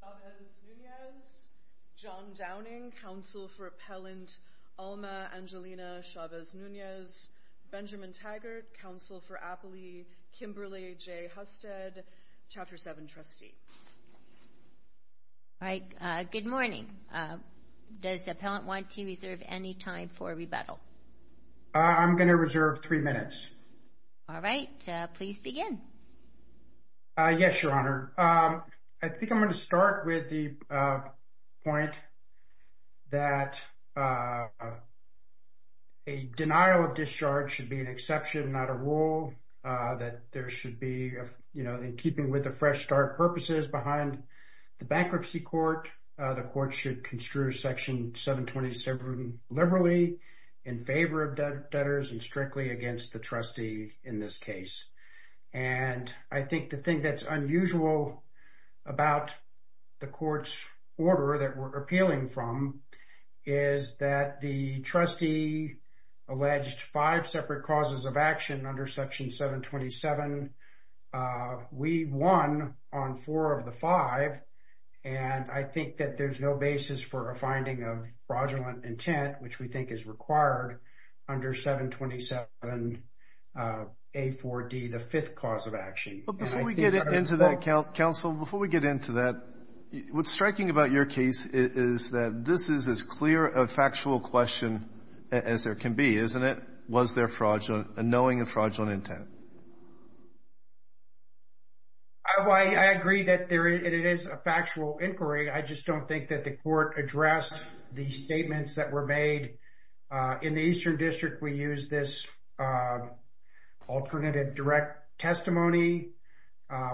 Chavez-Nunez, John Downing, counsel for appellant Alma Angelina Chavez-Nunez, Benjamin Taggart, counsel for Apley, Kimberly J. Husted, Chapter 7 trustee. All right, good morning. Does the appellant want to reserve any time for rebuttal? I'm going to reserve three minutes. All right, please begin. Yes, your honor. I think I'm going to start with the point that a denial of discharge should be an exception, not a rule. That there should be, you know, in keeping with the fresh start purposes behind the bankruptcy court, the court should construe section 727 liberally in favor of debtors and strictly against the trustee in this case. And I think the thing that's unusual about the court's order that we're appealing from is that the trustee alleged five separate causes of action under section 727. We won on four of the five. And I think that there's no basis for a finding of fraudulent intent, which we think is required under 727A4D, the fifth cause of action. But before we get into that, counsel, before we get into that, what's striking about your case is that this is as clear a factual question as there can be, isn't it? Was there fraudulent, a knowing of fraudulent intent? I agree that there is, and it is a factual inquiry. I just don't think that the court addressed the statements that were made. In the Eastern District, we use this alternative direct testimony,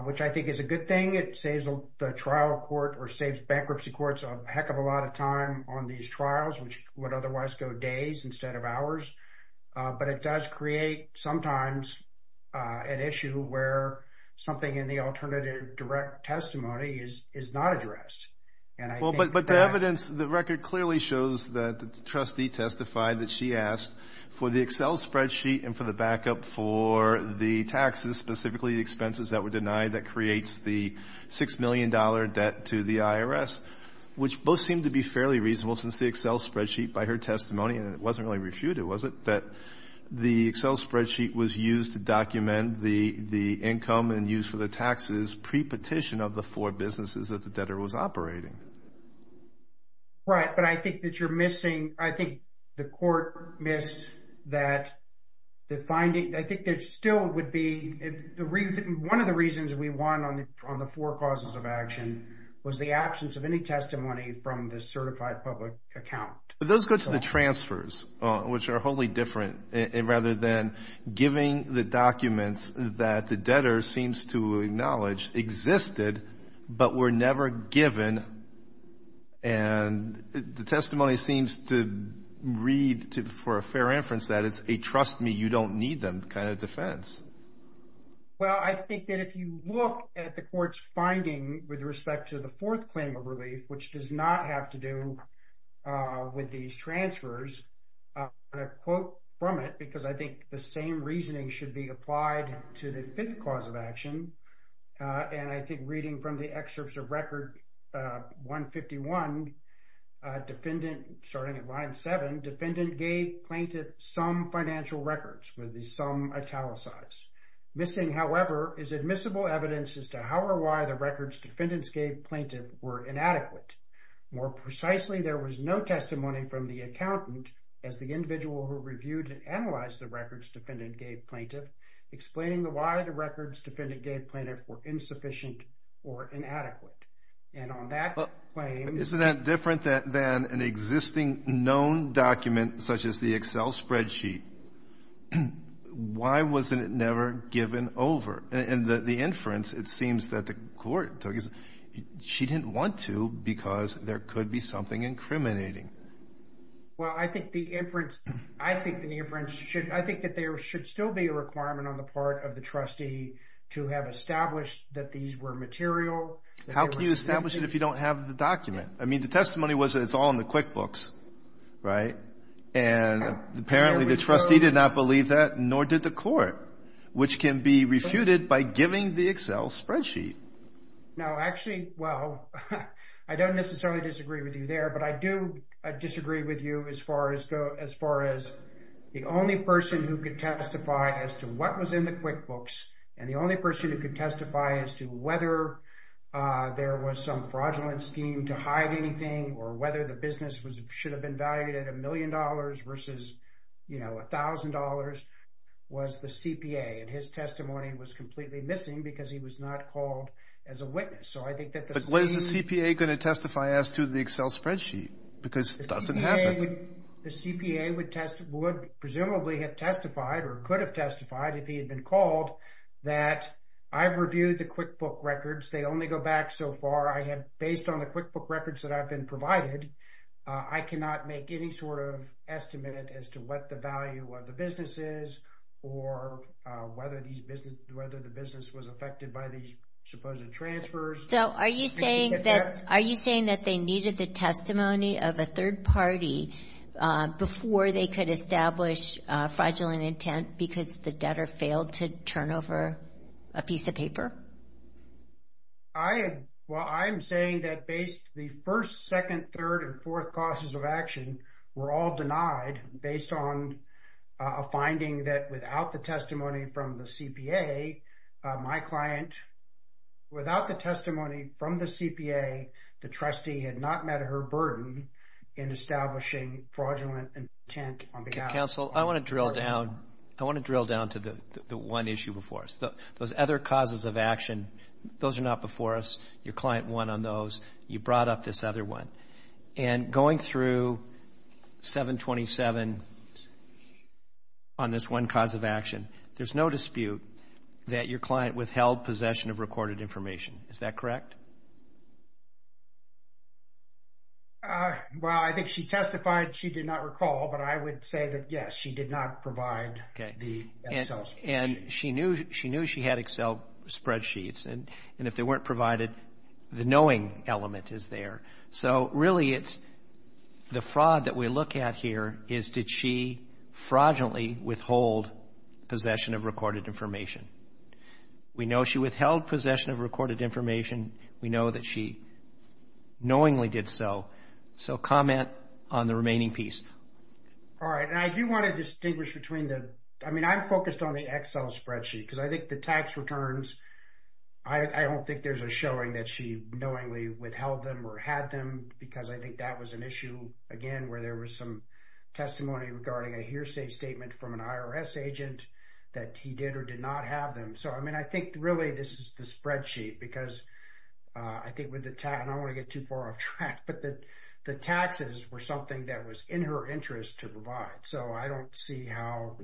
which I think is a good thing. It saves the trial court or saves bankruptcy courts a heck of a lot of time on these trials, which would otherwise go days instead of hours. But it does create sometimes an issue where something in the alternative direct testimony is not addressed. But the evidence, the record clearly shows that the trustee testified that she asked for the Excel spreadsheet and for the backup for the taxes, specifically the expenses that were denied that creates the $6 million debt to the IRS, which both seem to be fairly reasonable since the Excel spreadsheet, by her testimony, and it wasn't really refuted, was it, that the Excel spreadsheet was used to document the income and use for the taxes pre-petition of the four businesses that the debtor was operating? Right, but I think that you're missing, I think the court missed that, the finding. I think there still would be, one of the reasons we won on the four causes of action was the absence of any testimony from the certified public account. But those go to the transfers, which are wholly different, rather than giving the documents that the debtor seems to acknowledge existed, but were never given. And the testimony seems to read, for a fair inference, that it's a trust me, you don't need them kind of defense. Well, I think that if you look at the court's finding with respect to the fourth claim of relief, which does not have to do with these transfers, I'm going to quote from it because I think the same reasoning should be applied to the fifth cause of action. And I think reading from the excerpts of record 151, defendant, starting at line seven, defendant gave plaintiff some financial records with the sum italicized. Missing, however, is admissible evidence as to how or why the records defendants gave plaintiff were inadequate. More precisely, there was no testimony from the accountant as the individual who reviewed and analyzed the records defendant gave plaintiff, explaining why the records defendant gave plaintiff were insufficient or inadequate. And on that claim. Isn't that different than an existing known document, such as the Excel spreadsheet? Why wasn't it never given over? And the inference, it seems that the court took is she didn't want to because there could be something incriminating. Well, I think the inference, I think the inference should, I think that there should still be a requirement on the part of the trustee to have established that these were material. How can you establish it if you don't have the document? I mean, the testimony was that it's all in the QuickBooks, right? And apparently the trustee did not believe that, nor did the court, which can be refuted by giving the Excel spreadsheet. Now, actually, well, I don't necessarily disagree with you there, but I do disagree with you as far as go as far as the only person who could testify as to what was in the QuickBooks. And the only person who could testify as to whether there was some fraudulent scheme to hide anything or whether the business was should have been valued at a million dollars versus, you know, a thousand dollars was the CPA. And his testimony was completely missing because he was not called as a witness. So I think that the CPA is going to testify as to the Excel spreadsheet because it doesn't have the CPA would test would presumably have testified or could have testified if he had been called that I've reviewed the QuickBook records. They only go back so far. I had based on the QuickBook records that I've been provided. I cannot make any sort of estimate as to what the value of the business is or whether these business whether the business was affected by these supposed transfers. So are you saying that are you saying that they needed the testimony of a third party before they could establish fraudulent intent because the debtor failed to turn over a piece of paper? I well, I'm saying that based the first, second, third and fourth causes of action were all denied based on a finding that without the testimony from the CPA, my client without the testimony from the CPA, the trustee had not met her burden in establishing fraudulent intent on behalf of the client. I want to drill down to the one issue before us, those other causes of action, those are not before us, your client won on those, you brought up this other one and going through 727 on this one cause of action, there's no dispute that your client withheld possession of recorded information. Is that correct? Well, I think she testified she did not recall, but I would say that yes, she did not provide the Excel spreadsheet. And she knew she had Excel spreadsheets and if they weren't provided, the knowing element is there. So really it's the fraud that we look at here is did she fraudulently withhold possession of recorded information? We know she withheld possession of recorded information. We know that she knowingly did so. So comment on the remaining piece. All right. And I do want to distinguish between the, I mean, I'm focused on the Excel spreadsheet because I think the tax returns, I don't think there's a showing that she knowingly withheld them or had them because I think that was an issue again where there was some testimony regarding a hearsay statement from an IRS agent that he did or did not have. So, I mean, I think really this is the spreadsheet because I think with the tax, and I don't want to get too far off track, but the taxes were something that was in her interest to provide. So I don't see how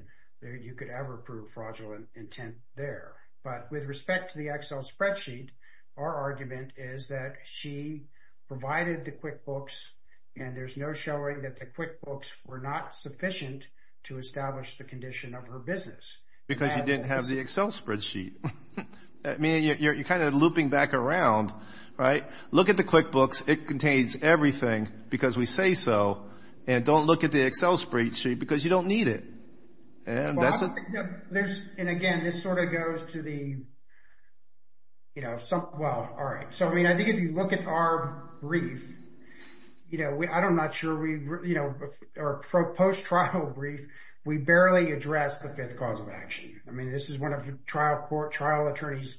you could ever prove fraudulent intent there. But with respect to the Excel spreadsheet, our argument is that she provided the QuickBooks and there's no showing that the QuickBooks were not sufficient to establish the condition of her business. Because you didn't have the Excel spreadsheet. I mean, you're kind of looping back around, right? Look at the QuickBooks. It contains everything because we say so. And don't look at the Excel spreadsheet because you don't need it. There's, and again, this sort of goes to the, you know, some, well, all right. So, I mean, I think if you look at our brief, you know, I'm not sure we, you know, our post-trial brief, we barely addressed the fifth cause of action. I mean, this is one of the trial court, trial attorney's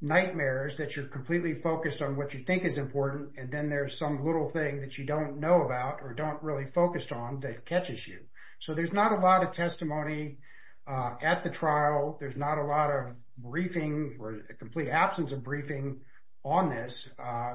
nightmares that you're completely focused on what you think is important and then there's some little thing that you don't know about or don't really focus on that catches you. So, there's not a lot of testimony at the trial. There's not a lot of briefing or a complete absence of briefing on this.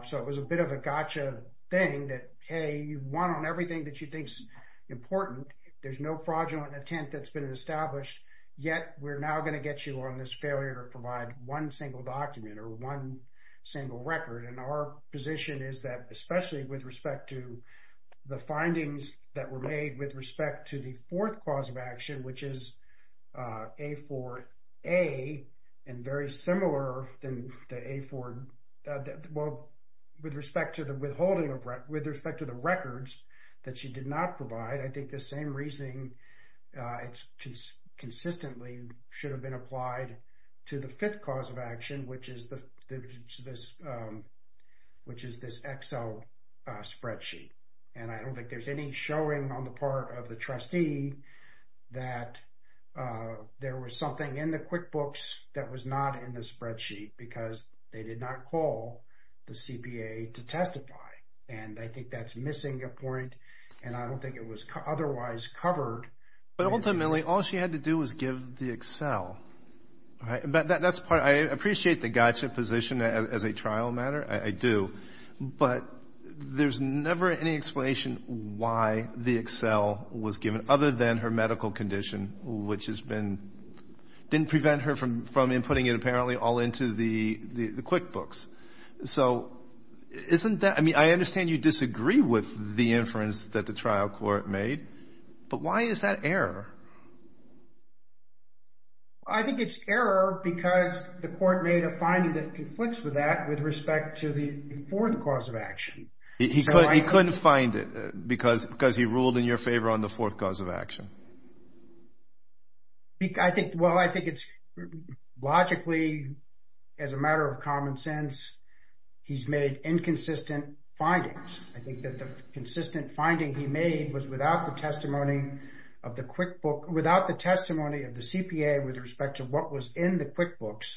So, it was a bit of a gotcha thing that, hey, you've won on everything that you think is important. There's no fraudulent intent that's been established, yet we're now going to get you on this failure to provide one single document or one single record. And our position is that, especially with respect to the findings that were made with respect to the fourth cause of action, which is A4A, and very similar than the A4, well, with respect to the withholding of, with respect to the records that you did not provide, I think the same reasoning consistently should have been applied to the fifth cause of action, which is this EXO spreadsheet. And I don't think there's any showing on the part of the trustee that there was something in the QuickBooks that was not in the spreadsheet because they did not call the CPA to testify. And I think that's missing a point, and I don't think it was otherwise covered. But ultimately, all she had to do was give the Excel. That's part, I appreciate the gotcha position as a trial matter. I do. But there's never any explanation why the Excel was given, other than her medical condition, which has been, didn't prevent her from inputting it, apparently, all into the QuickBooks. So, isn't that, I mean, I understand you disagree with the inference that the trial court made, but why is that error? I think it's error because the court made a finding that conflicts with that with respect to the fourth cause of action. He couldn't find it because he ruled in your favor on the fourth cause of action. I think, well, I think it's logically, as a matter of common sense, he's made inconsistent findings. I think that the consistent finding he made was without the testimony of the QuickBook, without the testimony of the CPA with respect to what was in the QuickBooks,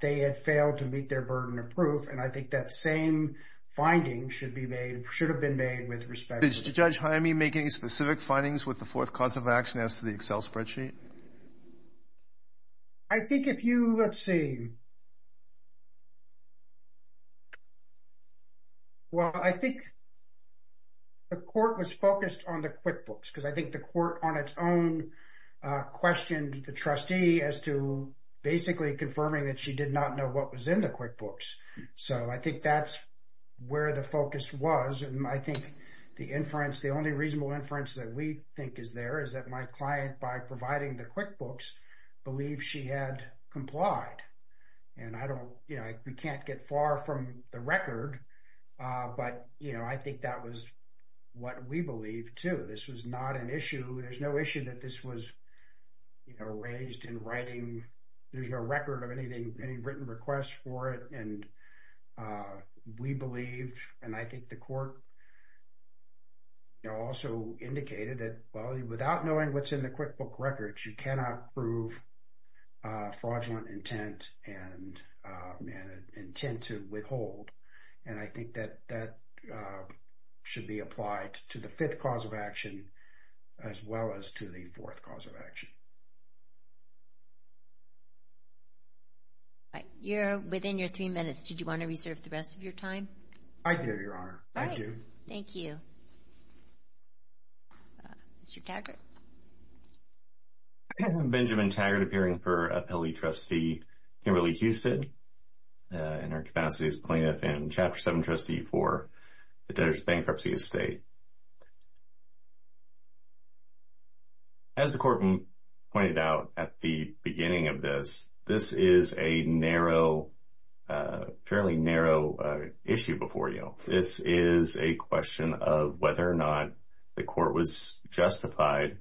they had failed to meet their burden of proof. And I think that same finding should be made, should have been made with respect. Did Judge Jaime make any specific findings with the fourth cause of action as to the Excel spreadsheet? I think if you, let's see. Well, I think the court was focused on the QuickBooks because I think the court on its own questioned the trustee as to basically confirming that she did not know what was in the QuickBooks. So I think that's where the focus was. And I think the inference, the only reasonable inference that we think is there is that my client, by providing the QuickBooks, believed she had complied. And I don't, you know, we can't get far from the record, but, you know, I think that was what we believe too. This was not an issue. There's no issue that this was, you know, raised in writing. There's no record of anything, any written requests for it. And we believed, and I think the court also indicated that, well, without knowing what's in the QuickBook records, you cannot prove fraudulent intent and intent to withhold. And I think that that should be applied to the fifth cause of action as well as to the fourth cause of action. All right. You're within your three minutes. Did you want to reserve the rest of your time? I do, Your Honor. I do. All right. Thank you. Mr. Taggart? I am Benjamin Taggart, appearing for Appellee Trustee Kimberly Houston. In our capacity as plaintiff and Chapter 7 Trustee for the Debtors Bankruptcy Estate. As the court pointed out at the beginning of this, this is a narrow, fairly narrow issue before you. This is a question of whether or not the court was justified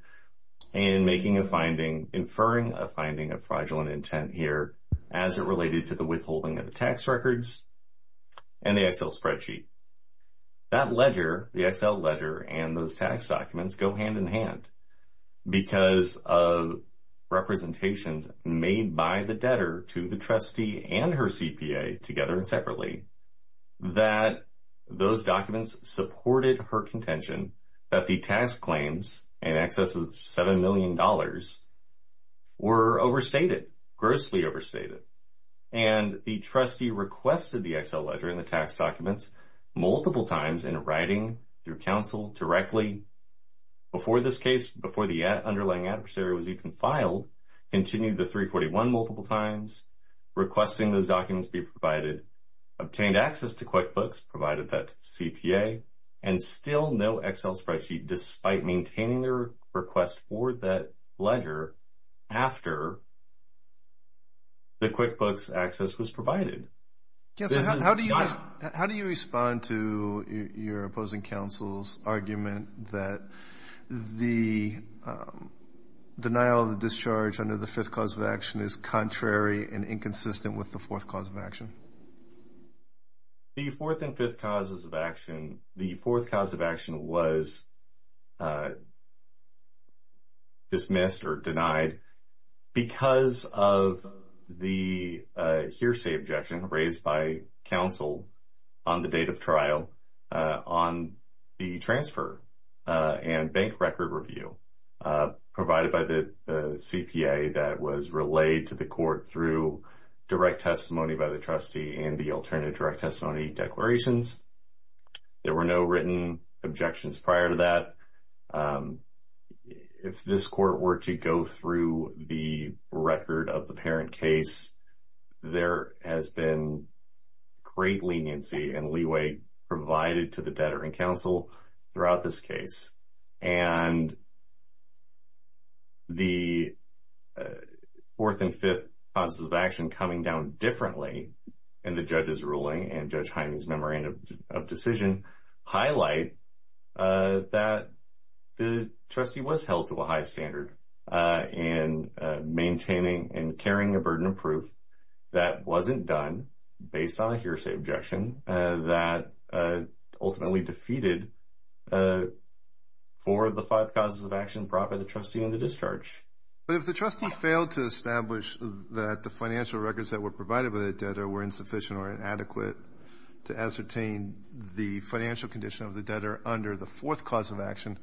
in making a finding, inferring a finding of fraudulent intent here as it related to the withholding of the tax records and the Excel spreadsheet. That ledger, the Excel ledger, and those tax documents go hand in hand because of representations made by the debtor to the trustee and her CPA, together and separately, that those documents supported her contention that the tax claims in excess of $7 million were overstated, grossly overstated. And the trustee requested the Excel ledger and the tax documents multiple times in writing, through counsel, directly, before this case, before the underlying adversary was even filed, continued the 341 multiple times, requesting those documents be provided, obtained access to QuickBooks, provided that to the CPA, and still no Excel spreadsheet, despite maintaining their request for that ledger after the QuickBooks access was provided. Counsel, how do you respond to your opposing counsel's argument that the denial of the discharge under the fifth cause of action is contrary and inconsistent with the fourth cause of action? The fourth and fifth causes of action, the fourth cause of action was dismissed or denied because of the hearsay objection raised by counsel on the date of trial on the transfer and bank record review provided by the CPA that was relayed to the court through direct testimony by the trustee. And the alternative direct testimony declarations, there were no written objections prior to that. If this court were to go through the record of the parent case, there has been great leniency and leeway provided to the debtor and counsel throughout this case. And the fourth and fifth causes of action coming down differently in the judge's ruling and Judge Hyman's memorandum of decision highlight that the trustee was held to a high standard in maintaining and carrying a burden of proof that wasn't done based on a hearsay objection, that ultimately defeated four of the five causes of action brought by the trustee on the discharge. But if the trustee failed to establish that the financial records that were provided by the debtor were insufficient or inadequate to ascertain the financial condition of the debtor under the fourth cause of action,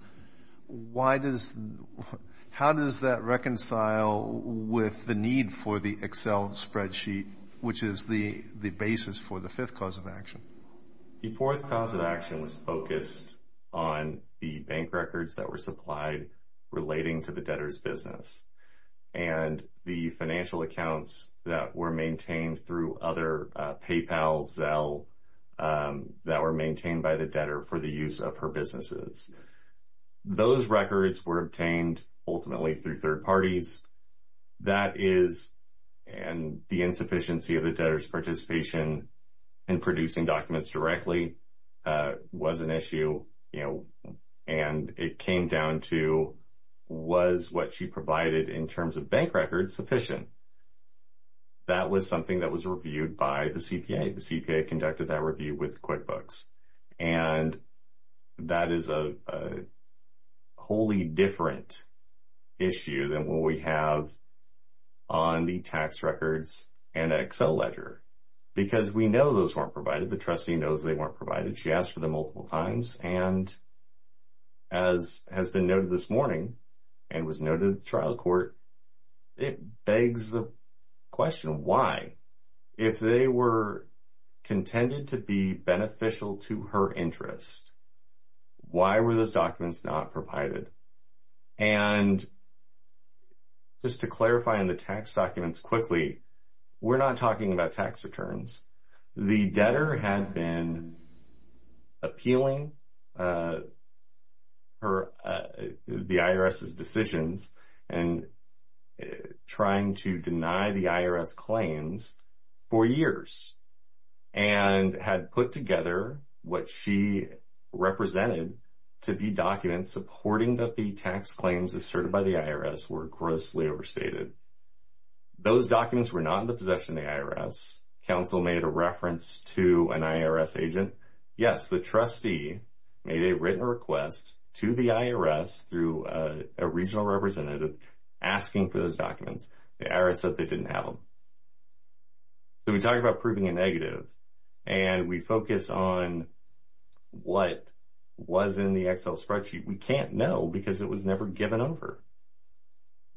how does that reconcile with the need for the Excel spreadsheet, which is the basis for the fifth cause of action? The fourth cause of action was focused on the bank records that were supplied relating to the debtor's business and the financial accounts that were maintained through other PayPal, Zelle, that were maintained by the debtor for the use of her businesses. Those records were obtained ultimately through third parties. That is, and the insufficiency of the debtor's participation in producing documents directly was an issue, you know, and it came down to was what she provided in terms of bank records sufficient? That was something that was reviewed by the CPA. The CPA conducted that review with QuickBooks, and that is a wholly different issue than what we have on the tax records and Excel ledger because we know those weren't provided. The trustee knows they weren't provided. She asked for them multiple times, and as has been noted this morning and was noted in the trial court, it begs the question, why? If they were contended to be beneficial to her interest, why were those documents not provided? And just to clarify on the tax documents quickly, we're not talking about tax returns. The debtor had been appealing the IRS's decisions and trying to deny the IRS claims for years and had put together what she represented to be documents supporting that the tax claims asserted by the IRS were grossly overstated. Those documents were not in the possession of the IRS. Counsel made a reference to an IRS agent. Yes, the trustee made a written request to the IRS through a regional representative asking for those documents. The IRS said they didn't have them. So we're talking about proving a negative, and we focus on what was in the Excel spreadsheet. We can't know because it was never given over.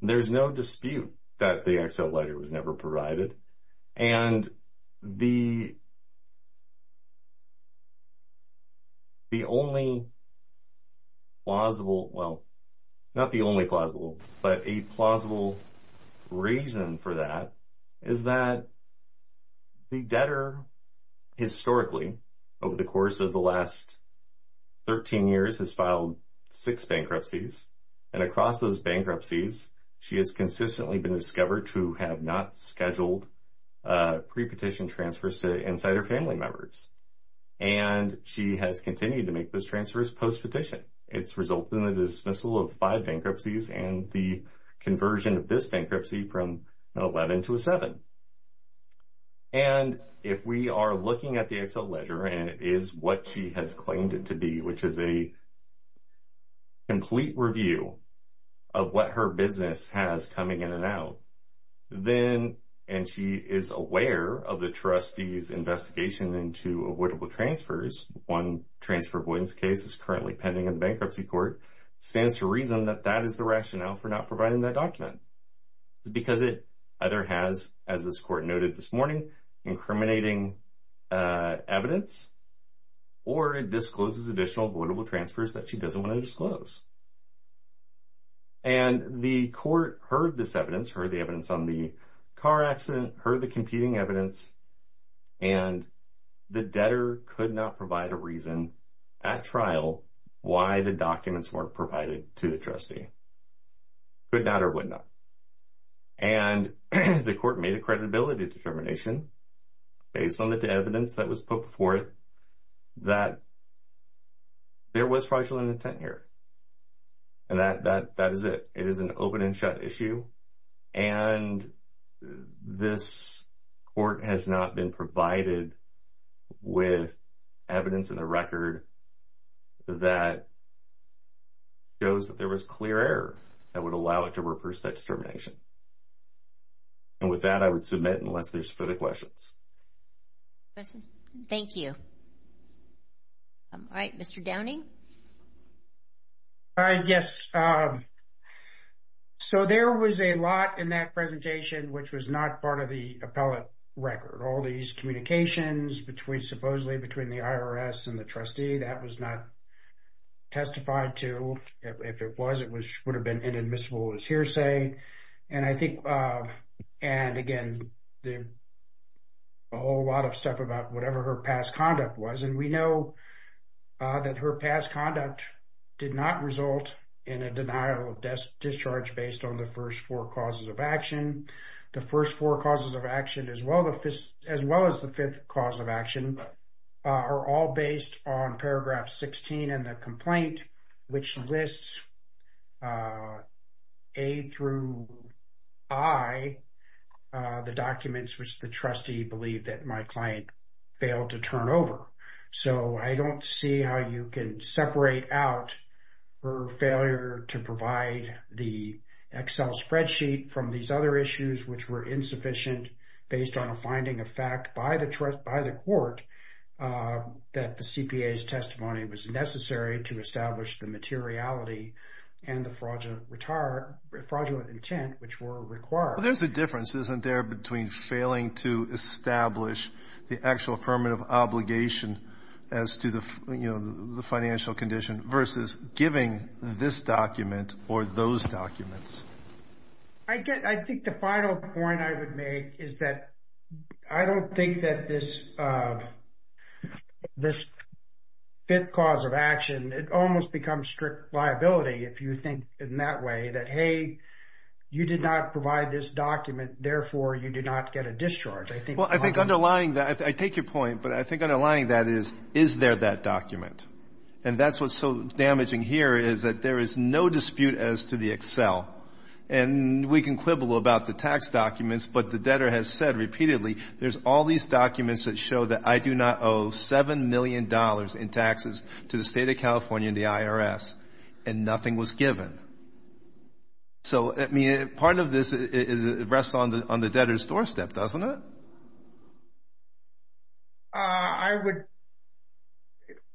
There's no dispute that the Excel ledger was never provided. And the only plausible, well, not the only plausible, but a plausible reason for that is that the debtor historically over the course of the last 13 years has filed six bankruptcies. And across those bankruptcies, she has consistently been discovered to have not scheduled pre-petition transfers to insider family members. And she has continued to make those transfers post-petition. It's resulted in the dismissal of five bankruptcies and the conversion of this bankruptcy from an 11 to a 7. And if we are looking at the Excel ledger, and it is what she has claimed it to be, which is a complete review of what her business has coming in and out, then, and she is aware of the trustee's investigation into avoidable transfers, one transfer avoidance case is currently pending in the bankruptcy court, stands to reason that that is the rationale for not providing that document. It's because it either has, as this court noted this morning, incriminating evidence, or it discloses additional avoidable transfers that she doesn't want to disclose. And the court heard this evidence, heard the evidence on the car accident, heard the competing evidence, and the debtor could not provide a reason at trial why the documents weren't provided to the trustee. Could not or would not. And the court made a credibility determination based on the evidence that was put before it that there was fraudulent intent here. And that is it. It is an open and shut issue. And this court has not been provided with evidence in the record that shows that there was clear error that would allow it to reverse that determination. And with that, I would submit unless there's further questions. Thank you. All right, Mr. Downing. Yes. So there was a lot in that presentation which was not part of the appellate record. All these communications between supposedly between the IRS and the trustee, that was not testified to. If it was, it would have been inadmissible as hearsay. And I think, and again, there's a whole lot of stuff about whatever her past conduct was. And we know that her past conduct did not result in a denial of discharge based on the first four causes of action. The first four causes of action as well as the fifth cause of action are all based on paragraph 16 in the complaint, which lists A through I, the documents which the trustee believed that my client failed to turn over. So I don't see how you can separate out her failure to provide the Excel spreadsheet from these other issues, which were insufficient based on a finding of fact by the court that the CPA's testimony was necessary to establish the materiality and the fraudulent intent which were required. Well, there's a difference, isn't there, between failing to establish the actual affirmative obligation as to the financial condition versus giving this document or those documents? I think the final point I would make is that I don't think that this fifth cause of action, it almost becomes strict liability if you think in that way, that, hey, you did not provide this document, therefore, you did not get a discharge. Well, I think underlying that, I take your point, but I think underlying that is, is there that document? And that's what's so damaging here is that there is no dispute as to the Excel. And we can quibble about the tax documents, but the debtor has said repeatedly, there's all these documents that show that I do not owe $7 million in taxes to the State of California and the IRS, and nothing was given. So, I mean, part of this rests on the debtor's doorstep, doesn't it? I would,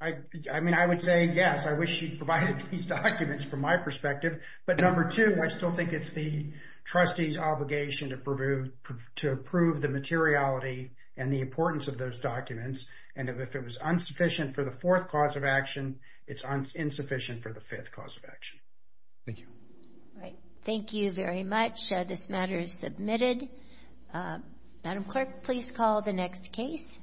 I mean, I would say, yes, I wish she'd provided these documents from my perspective. But number two, I still think it's the trustee's obligation to approve the materiality and the importance of those documents. And if it was insufficient for the fourth cause of action, it's insufficient for the fifth cause of action. Thank you. All right. Thank you very much. This matter is submitted. Madam Clerk, please call the next case.